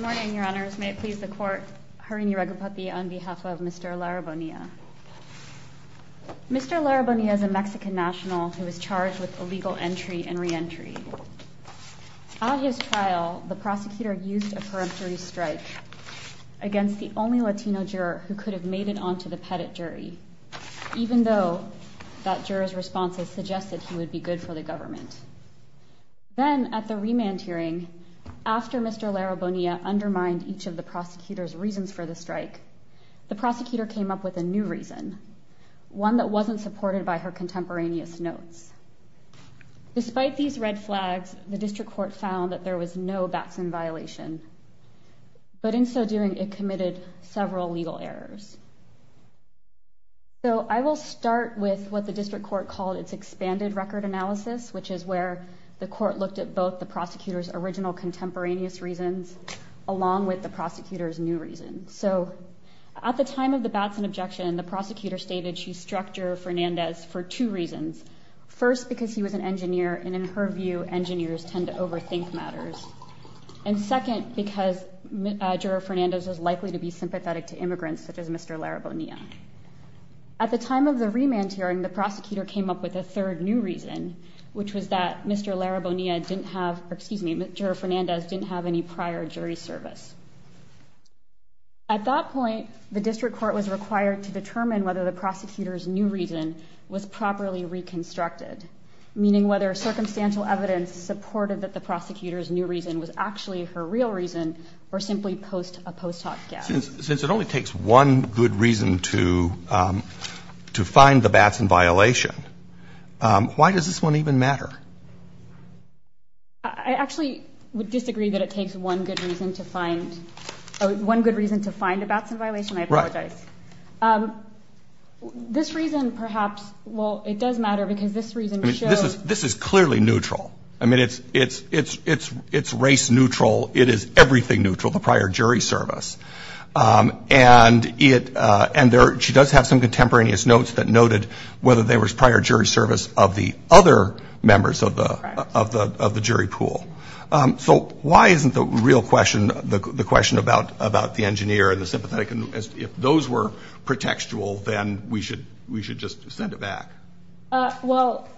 Mr. Lara-Bonilla is a Mexican national who was charged with illegal entry and re-entry. At his trial, the prosecutor used a peremptory strike against the only Latino juror who could have made it onto the Pettit jury, even though that juror's responses suggested he would be good for the government. Then, at the remand hearing, after Mr. Lara-Bonilla undermined each of the prosecutor's reasons for the strike, the prosecutor came up with a new reason, one that wasn't supported by her contemporaneous notes. Despite these red flags, the district court found that there was no Batson violation, but in so doing, it committed several legal errors. I will start with what the district court called its expanded record analysis, which is where the court looked at both the prosecutor's original contemporaneous reasons along with the prosecutor's new reasons. At the time of the Batson objection, the prosecutor stated she struck Juror Fernandez for two reasons. First, because he was an engineer, and in her view, engineers tend to overthink matters. And second, because Juror Fernandez was likely to be sympathetic to immigrants, such as Mr. Lara-Bonilla. At the time of the remand hearing, the prosecutor came up with a third new reason, which was that Juror Fernandez didn't have any prior jury service. At that point, the district court was required to determine whether the prosecutor's new reason was properly reconstructed, meaning whether circumstantial evidence supported that the prosecutor's new reason was actually her real reason, or simply post a post hoc guess. Since it only takes one good reason to find the Batson violation, why does this one even matter? I actually would disagree that it takes one good reason to find a Batson violation. I apologize. This reason, perhaps, well, it does matter because this reason shows- This is clearly neutral. I mean, it's race neutral. It is everything neutral, the prior jury service. And she does have some contemporaneous notes that noted whether there was prior jury service of the other members of the jury pool. So why isn't the real question, the question about the engineer and the sympathetic, if those were pretextual, then we should just send it back? Well,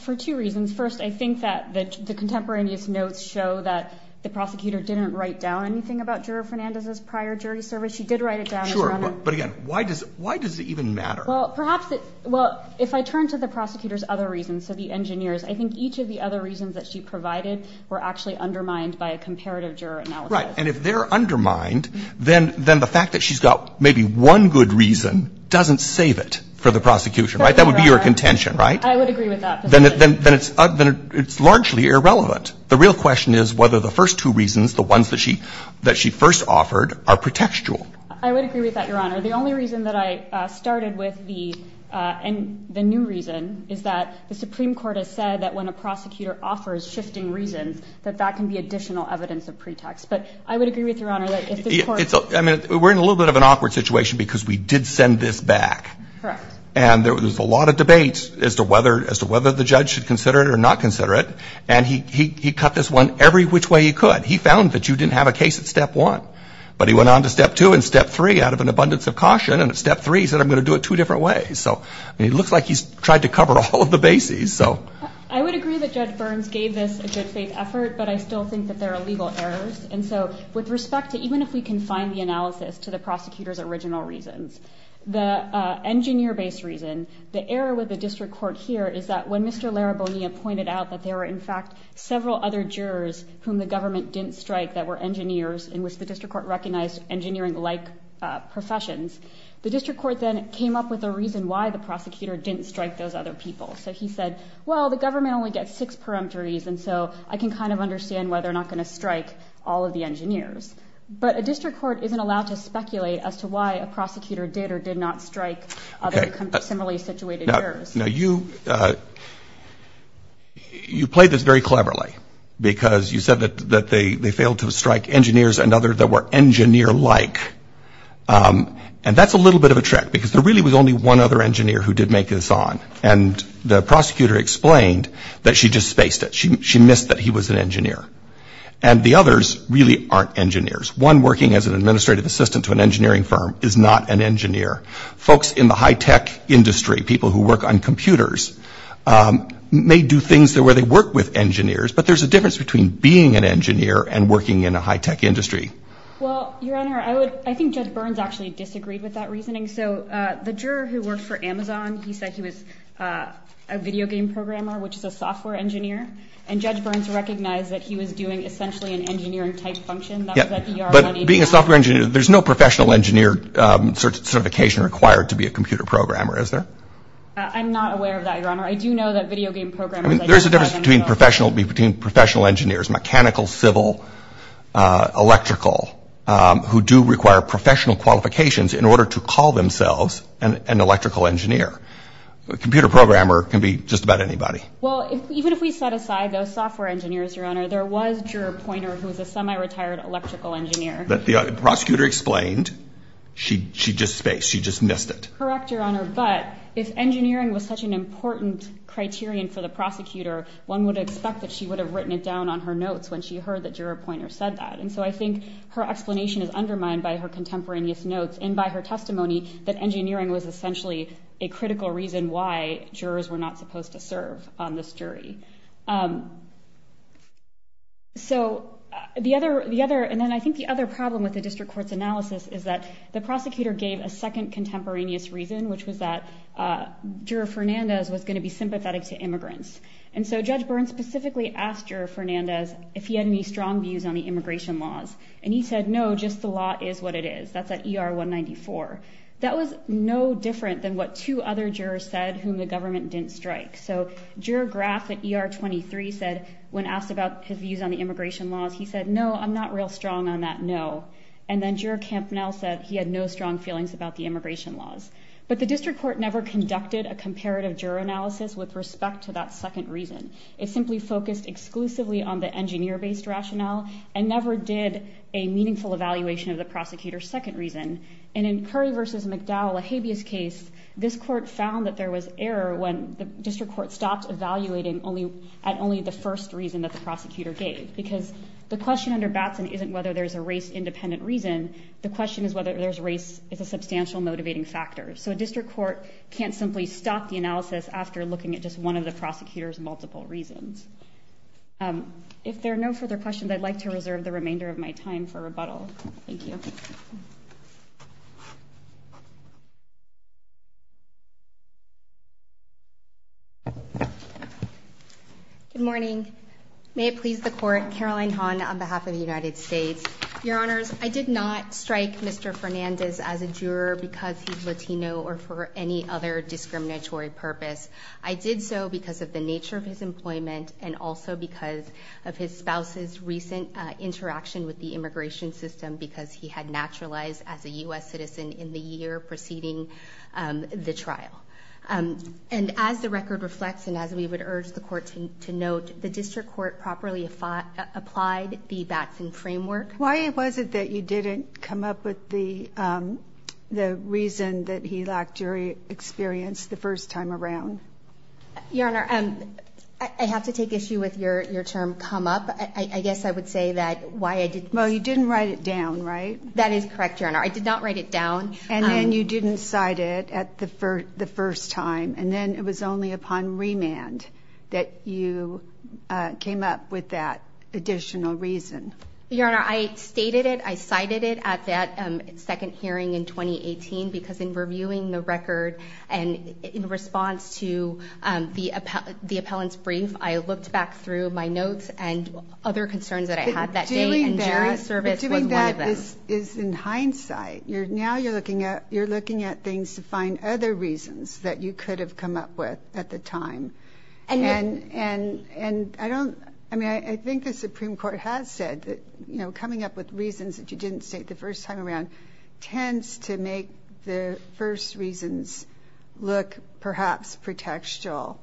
for two reasons. First, I think that the contemporaneous notes show that the prosecutor didn't write down anything about Juror Fernandez's prior jury service. She did write it down. Sure, but again, why does it even matter? Well, if I turn to the prosecutor's other reasons, so the engineer's, I think each of the other reasons that she provided were actually undermined by a comparative juror analysis. Right. And if they're undermined, then the fact that she's got maybe one good reason doesn't save it for the prosecution, right? That would be your contention, right? I would agree with that position. Then it's largely irrelevant. The real question is whether the first two reasons, the ones that she first offered, are pretextual. I would agree with that, Your Honor. The only reason that I started with the new reason is that the Supreme Court has said that when a prosecutor offers shifting reasons, that that can be additional evidence of pretext. But I would agree with you, Your Honor, that if the court ---- I mean, we're in a little bit of an awkward situation because we did send this back. Correct. And there was a lot of debate as to whether the judge should consider it or not consider it. And he cut this one every which way he could. He found that you didn't have a case at step one. But he went on to step two and step three out of an abundance of caution. And at step three, he said, I'm going to do it two different ways. So it looks like he's tried to cover all of the bases. I would agree that Judge Burns gave this a good faith effort, but I still think that there are legal errors. And so with respect to even if we can find the analysis to the prosecutor's original reasons, the engineer-based reason, the error with the district court here is that when Mr. Larabonia pointed out that there were, in fact, several other jurors whom the government didn't strike that were engineers and which the district court recognized engineering-like professions, the district court then came up with a reason why the prosecutor didn't strike those other people. So he said, well, the government only gets six peremptories, and so I can kind of understand why they're not going to strike all of the engineers. But a district court isn't allowed to speculate as to why a prosecutor did or did not strike similarly situated jurors. Now, you played this very cleverly, because you said that they failed to strike engineers and others that were engineer-like. And that's a little bit of a trick, because there really was only one other engineer who did make this on. And the prosecutor explained that she just spaced it. She missed that he was an engineer. And the others really aren't engineers. One working as an administrative assistant to an engineering firm is not an engineer. Folks in the high-tech industry, people who work on computers, may do things where they work with engineers. But there's a difference between being an engineer and working in a high-tech industry. Well, Your Honor, I think Judge Burns actually disagreed with that reasoning. So the juror who worked for Amazon, he said he was a video game programmer, which is a software engineer. And Judge Burns recognized that he was doing essentially an engineering-type function. But being a software engineer, there's no professional engineer certification required to be a computer programmer, is there? I'm not aware of that, Your Honor. I do know that video game programmers, I don't know. There's a difference between professional engineers, mechanical, civil, electrical, who do require professional qualifications in order to call themselves an electrical engineer. A computer programmer can be just about anybody. Well, even if we set aside those software engineers, Your Honor, there was Juror Poynter, who was a semi-retired electrical engineer. The prosecutor explained. She just spaced. She just missed it. Correct, Your Honor, but if engineering was such an important criterion for the prosecutor, one would expect that she would have written it down on her notes when she heard that Juror Poynter said that. And so I think her explanation is undermined by her contemporaneous notes and by her testimony that engineering was essentially a critical reason why jurors were not supposed to serve on this jury. And then I think the other problem with the district court's analysis is that the prosecutor gave a second contemporaneous reason, which was that Juror Fernandez was going to be sympathetic to immigrants. And so Judge Byrne specifically asked Juror Fernandez if he had any strong views on the immigration laws, and he said, no, just the law is what it is. That's at ER 194. That was no different than what two other jurors said whom the government didn't strike. So Juror Graf at ER 23 said when asked about his views on the immigration laws, he said, no, I'm not real strong on that, no. And then Juror Kampnell said he had no strong feelings about the immigration laws. But the district court never conducted a comparative juror analysis with respect to that second reason. It simply focused exclusively on the engineer-based rationale and never did a meaningful evaluation of the prosecutor's second reason. And in Curry v. McDowell, a habeas case, this court found that there was error when the district court stopped evaluating at only the first reason that the prosecutor gave. Because the question under Batson isn't whether there's a race-independent reason. The question is whether there's race as a substantial motivating factor. So a district court can't simply stop the analysis after looking at just one of the prosecutor's multiple reasons. If there are no further questions, I'd like to reserve the remainder of my time for rebuttal. Thank you. Good morning. May it please the court, Caroline Hahn on behalf of the United States. Your Honors, I did not strike Mr. Fernandez as a juror because he's Latino or for any other discriminatory purpose. I did so because of the nature of his employment and also because of his spouse's recent interaction with the immigration system because he had naturalized as a U.S. citizen in the year preceding the trial. And as the record reflects and as we would urge the court to note, the district court properly applied the Batson framework. Why was it that you didn't come up with the reason that he lacked jury experience the first time around? Your Honor, I have to take issue with your term, come up. I guess I would say that why I didn't. Well, you didn't write it down, right? That is correct, Your Honor. I did not write it down. And then you didn't cite it the first time. And then it was only upon remand that you came up with that additional reason. Your Honor, I stated it. I cited it at that second hearing in 2018 because in reviewing the record and in response to the appellant's brief, I looked back through my notes and other concerns that I had that day and jury service was one of them. But doing that is in hindsight. Now you're looking at things to find other reasons that you could have come up with at the time. And I don't – I mean, I think the Supreme Court has said that, you know, coming up with reasons that you didn't state the first time around tends to make the first reasons look perhaps pretextual.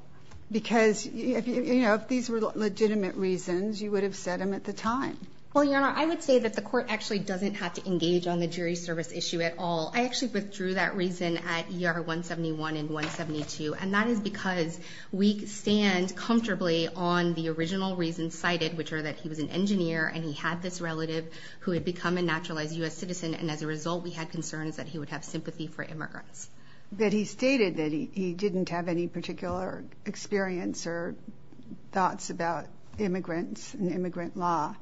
Because, you know, if these were legitimate reasons, you would have said them at the time. Well, Your Honor, I would say that the court actually doesn't have to engage on the jury service issue at all. I actually withdrew that reason at ER 171 and 172. And that is because we stand comfortably on the original reasons cited, which are that he was an engineer and he had this relative who had become a naturalized U.S. citizen. And as a result, we had concerns that he would have sympathy for immigrants. That he stated that he didn't have any particular experience or thoughts about immigrants and immigrant law.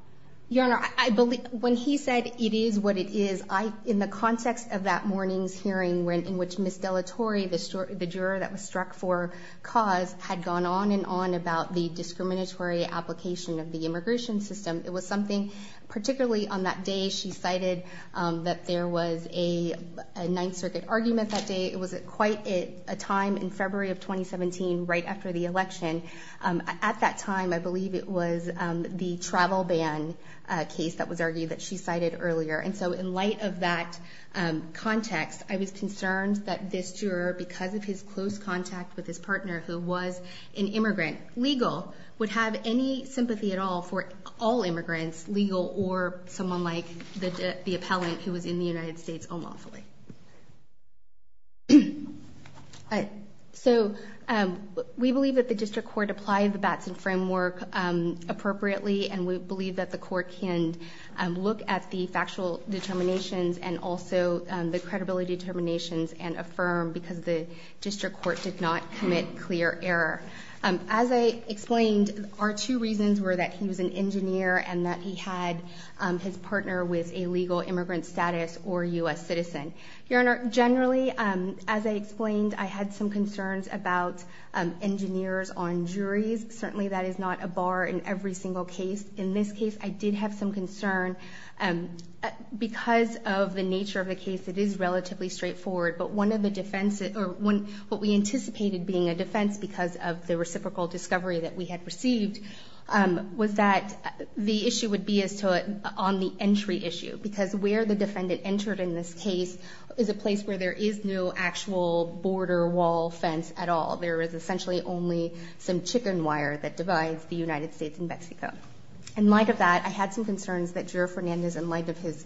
Your Honor, I believe – when he said it is what it is, I – in the context of that morning's hearing, in which Ms. Dellatori, the juror that was struck for cause, had gone on and on about the discriminatory application of the immigration system, it was something particularly on that day she cited that there was a Ninth Circuit argument that day. It was at quite a time in February of 2017, right after the election. At that time, I believe it was the travel ban case that was argued that she cited earlier. And so in light of that context, I was concerned that this juror, because of his close contact with his partner who was an immigrant, legal, would have any sympathy at all for all immigrants, legal, or someone like the appellant who was in the United States unlawfully. So we believe that the district court applied the Batson framework appropriately, and we believe that the court can look at the factual determinations and also the credibility determinations and affirm because the district court did not commit clear error. As I explained, our two reasons were that he was an engineer and that he had his partner with a legal immigrant status or U.S. citizen. Your Honor, generally, as I explained, I had some concerns about engineers on juries. Certainly that is not a bar in every single case. In this case, I did have some concern. Because of the nature of the case, it is relatively straightforward, but what we anticipated being a defense because of the reciprocal discovery that we had received was that the issue would be on the entry issue, because where the defendant entered in this case is a place where there is no actual border wall fence at all. There is essentially only some chicken wire that divides the United States and Mexico. In light of that, I had some concerns that Juror Fernandez, in light of his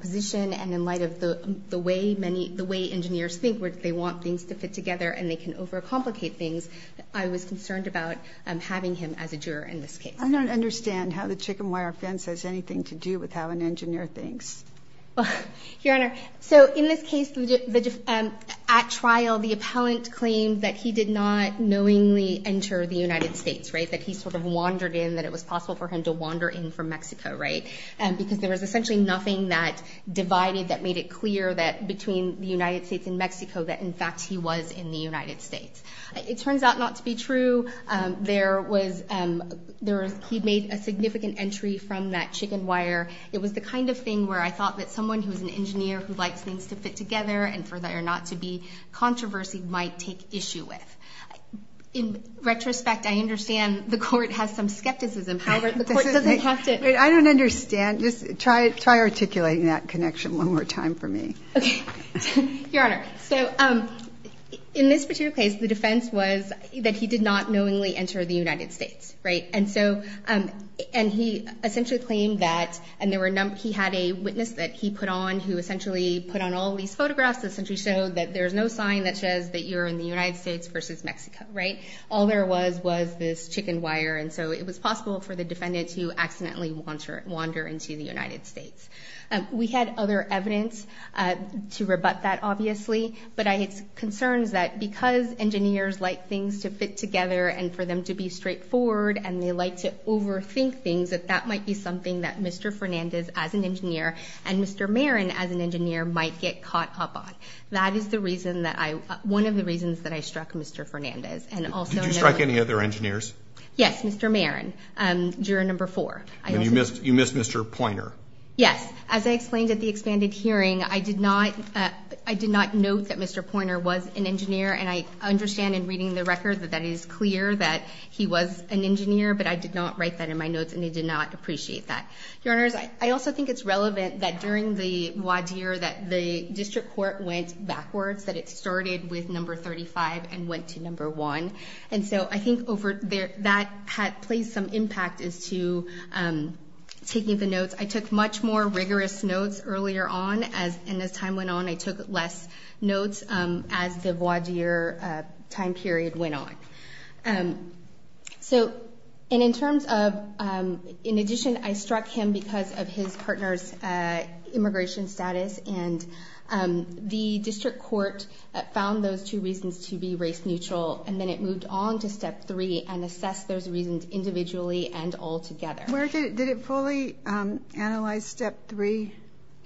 position and in light of the way engineers think where they want things to fit together and they can overcomplicate things, I was concerned about having him as a juror in this case. I don't understand how the chicken wire fence has anything to do with how an engineer thinks. Your Honor, so in this case, at trial, the appellant claimed that he did not knowingly enter the United States, right? That he sort of wandered in, that it was possible for him to wander in from Mexico, right? Because there was essentially nothing that divided, that made it clear that between the United States and Mexico that, in fact, he was in the United States. It turns out not to be true. He made a significant entry from that chicken wire. It was the kind of thing where I thought that someone who is an engineer who likes things to fit together and for there not to be controversy might take issue with. In retrospect, I understand the court has some skepticism. However, the court doesn't have to. I don't understand. Just try articulating that connection one more time for me. Okay. Your Honor, so in this particular case, the defense was that he did not knowingly enter the United States, right? And so he essentially claimed that, and he had a witness that he put on who essentially put on all these photographs that essentially showed that there's no sign that says that you're in the United States versus Mexico, right? All there was was this chicken wire. And so it was possible for the defendant to accidentally wander into the United States. We had other evidence to rebut that, obviously, but I had concerns that because engineers like things to fit together and for them to be straightforward and they like to overthink things, that that might be something that Mr. Fernandez, as an engineer, and Mr. Marin, as an engineer, might get caught up on. That is the reason that I – one of the reasons that I struck Mr. Fernandez. Did you strike any other engineers? Yes, Mr. Marin, juror number four. You missed Mr. Poynter. Yes. As I explained at the expanded hearing, I did not note that Mr. Poynter was an engineer, and I understand in reading the record that that is clear that he was an engineer, but I did not write that in my notes, and I did not appreciate that. Your Honors, I also think it's relevant that during the voir dire that the district court went backwards, that it started with number 35 and went to number one. And so I think that plays some impact as to taking the notes. I took much more rigorous notes earlier on, and as time went on, I took less notes as the voir dire time period went on. And in addition, I struck him because of his partner's immigration status, and the district court found those two reasons to be race neutral, and then it moved on to step three and assessed those reasons individually and altogether. Did it fully analyze step three?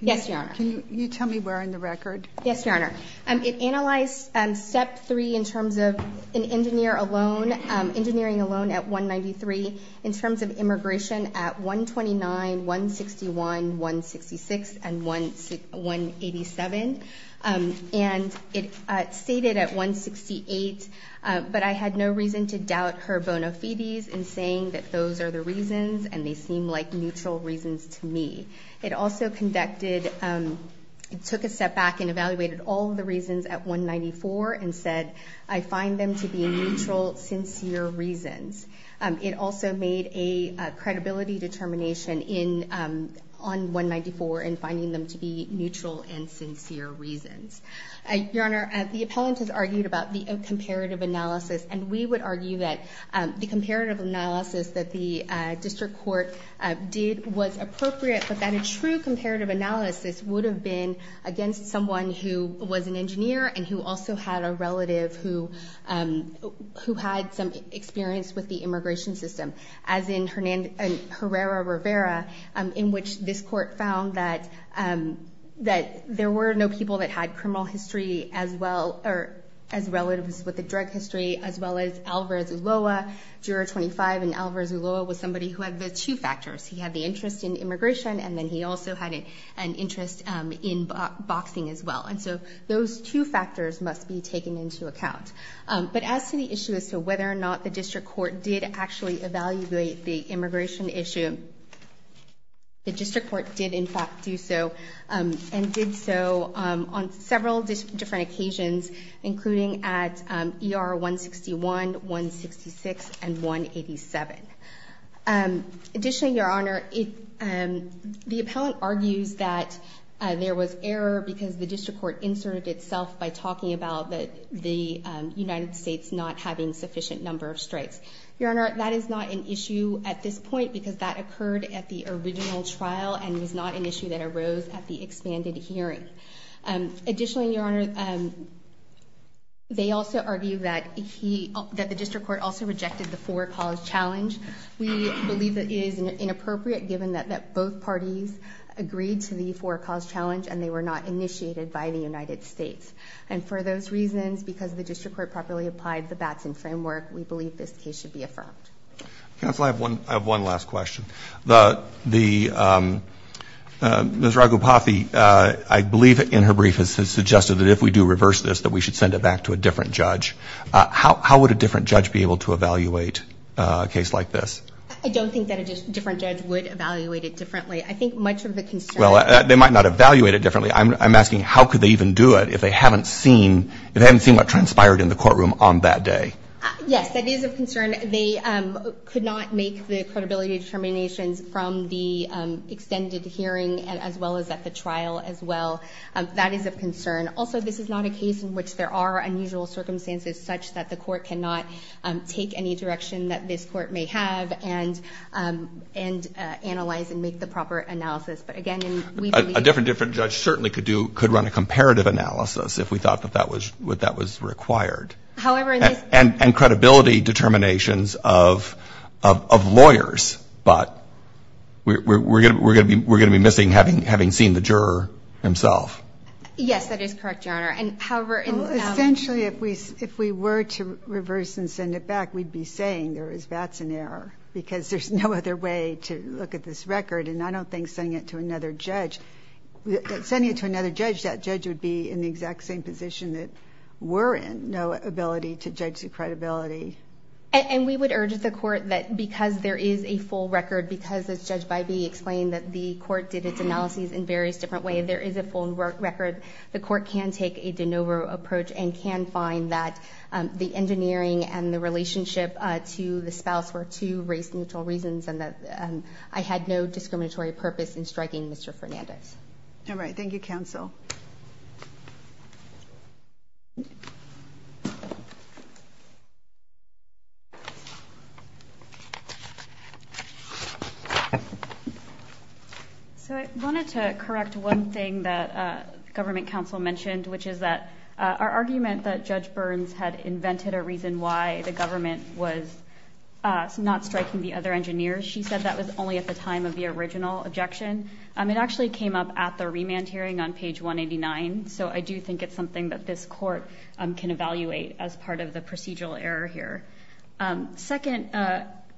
Yes, Your Honor. Can you tell me where in the record? Yes, Your Honor. It analyzed step three in terms of an engineer alone, engineering alone at 193, in terms of immigration at 129, 161, 166, and 187, and it stated at 168, but I had no reason to doubt her bona fides in saying that those are the reasons and they seem like neutral reasons to me. It also conducted, it took a step back and evaluated all of the reasons at 194 and said I find them to be neutral, sincere reasons. It also made a credibility determination on 194 and finding them to be neutral and sincere reasons. Your Honor, the appellant has argued about the comparative analysis, and we would argue that the comparative analysis that the district court did was appropriate, but that a true comparative analysis would have been against someone who was an engineer and who also had a relative who had some experience with the immigration system, as in Herrera-Rivera, in which this court found that there were no people that had criminal history as well as relatives with a drug history, as well as Alvarez-Ulloa, juror 25, and Alvarez-Ulloa was somebody who had the two factors. He had the interest in immigration, and then he also had an interest in boxing as well. And so those two factors must be taken into account. But as to the issue as to whether or not the district court did actually evaluate the immigration issue, the district court did in fact do so and did so on several different occasions, including at ER 161, 166, and 187. Additionally, Your Honor, the appellant argues that there was error because the district court inserted itself by talking about the United States not having sufficient number of strikes. Your Honor, that is not an issue at this point because that occurred at the original trial and was not an issue that arose at the expanded hearing. Additionally, Your Honor, they also argue that the district court also rejected the four cause challenge. We believe that it is inappropriate given that both parties agreed to the four cause challenge and they were not initiated by the United States. And for those reasons, because the district court properly applied the Batson framework, we believe this case should be affirmed. Counsel, I have one last question. Ms. Ragupathy, I believe in her brief, has suggested that if we do reverse this, that we should send it back to a different judge. How would a different judge be able to evaluate a case like this? I don't think that a different judge would evaluate it differently. I think much of the concern of the district court is that the district court should be able to do so. Well, they might not evaluate it differently. I'm asking how could they even do it if they haven't seen what transpired in the courtroom on that day? Yes, that is of concern. They could not make the credibility determinations from the extended hearing as well as at the trial as well. That is of concern. Also, this is not a case in which there are unusual circumstances such that the court cannot take any direction that this court may have and analyze and make the proper analysis. But, again, we believe that a different judge certainly could run a comparative analysis if we thought that that was required. And credibility determinations of lawyers. But we're going to be missing having seen the juror himself. Yes, that is correct, Your Honor. Essentially, if we were to reverse and send it back, we'd be saying there was VATS in error because there's no other way to look at this record. And I don't think sending it to another judge, that judge would be in the exact same position that we're in. There's just no ability to judge the credibility. And we would urge the court that because there is a full record, because, as Judge Bybee explained, that the court did its analyses in various different ways, there is a full record. The court can take a de novo approach and can find that the engineering and the relationship to the spouse were two race-neutral reasons and that I had no discriminatory purpose in striking Mr. Fernandez. All right. Thank you, counsel. So I wanted to correct one thing that government counsel mentioned, which is that our argument that Judge Burns had invented a reason why the government was not striking the other engineers, she said that was only at the time of the original objection. It actually came up at the remand hearing on page 189, so I do think it's something that this court can evaluate as part of the procedural error here. Second,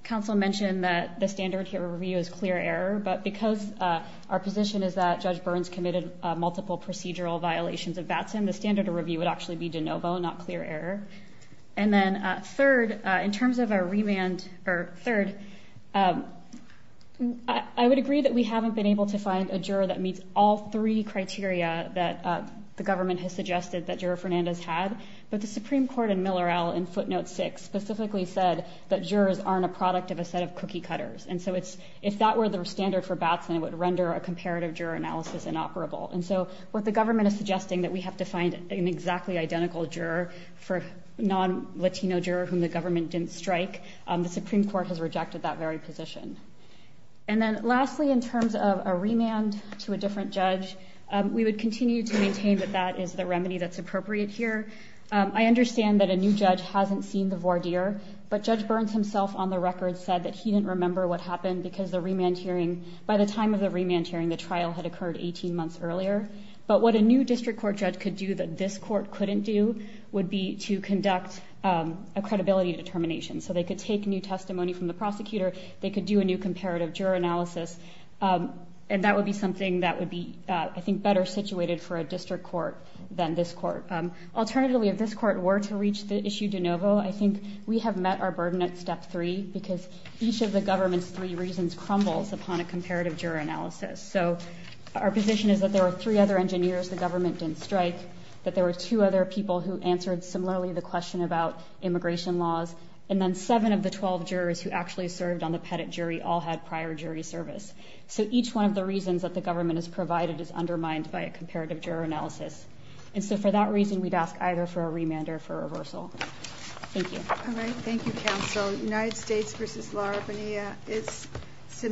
counsel mentioned that the standard here of review is clear error, but because our position is that Judge Burns committed multiple procedural violations of VATS, the standard of review would actually be de novo, not clear error. And then third, in terms of a remand, or third, I would agree that we haven't been able to find a juror that meets all three criteria that the government has suggested that Juror Fernandez had, but the Supreme Court in Millerell in footnote six specifically said that jurors aren't a product of a set of cookie cutters. And so if that were the standard for VATS, then it would render a comparative juror analysis inoperable. And so what the government is suggesting that we have to find an exactly identical juror for non-Latino juror whom the government didn't strike, the Supreme Court has rejected that very position. And then lastly, in terms of a remand to a different judge, we would continue to maintain that that is the remedy that's appropriate here. I understand that a new judge hasn't seen the voir dire, but Judge Burns himself on the record said that he didn't remember what happened because the remand hearing, by the time of the remand hearing, the trial had occurred 18 months earlier. But what a new district court judge could do that this court couldn't do would be to conduct a credibility determination. So they could take new testimony from the prosecutor. They could do a new comparative juror analysis. And that would be something that would be, I think, better situated for a district court than this court. Alternatively, if this court were to reach the issue de novo, I think we have met our burden at step three because each of the government's three reasons crumbles upon a comparative juror analysis. So our position is that there are three other engineers the government didn't strike, that there were two other people who answered similarly the question about immigration laws, and then seven of the 12 jurors who actually served on the pettit jury all had prior jury service. So each one of the reasons that the government has provided is undermined by a comparative juror analysis. And so for that reason, we'd ask either for a remand or for a reversal. Thank you. All right. Thank you, counsel. United States v. Lara Bonilla is submitted.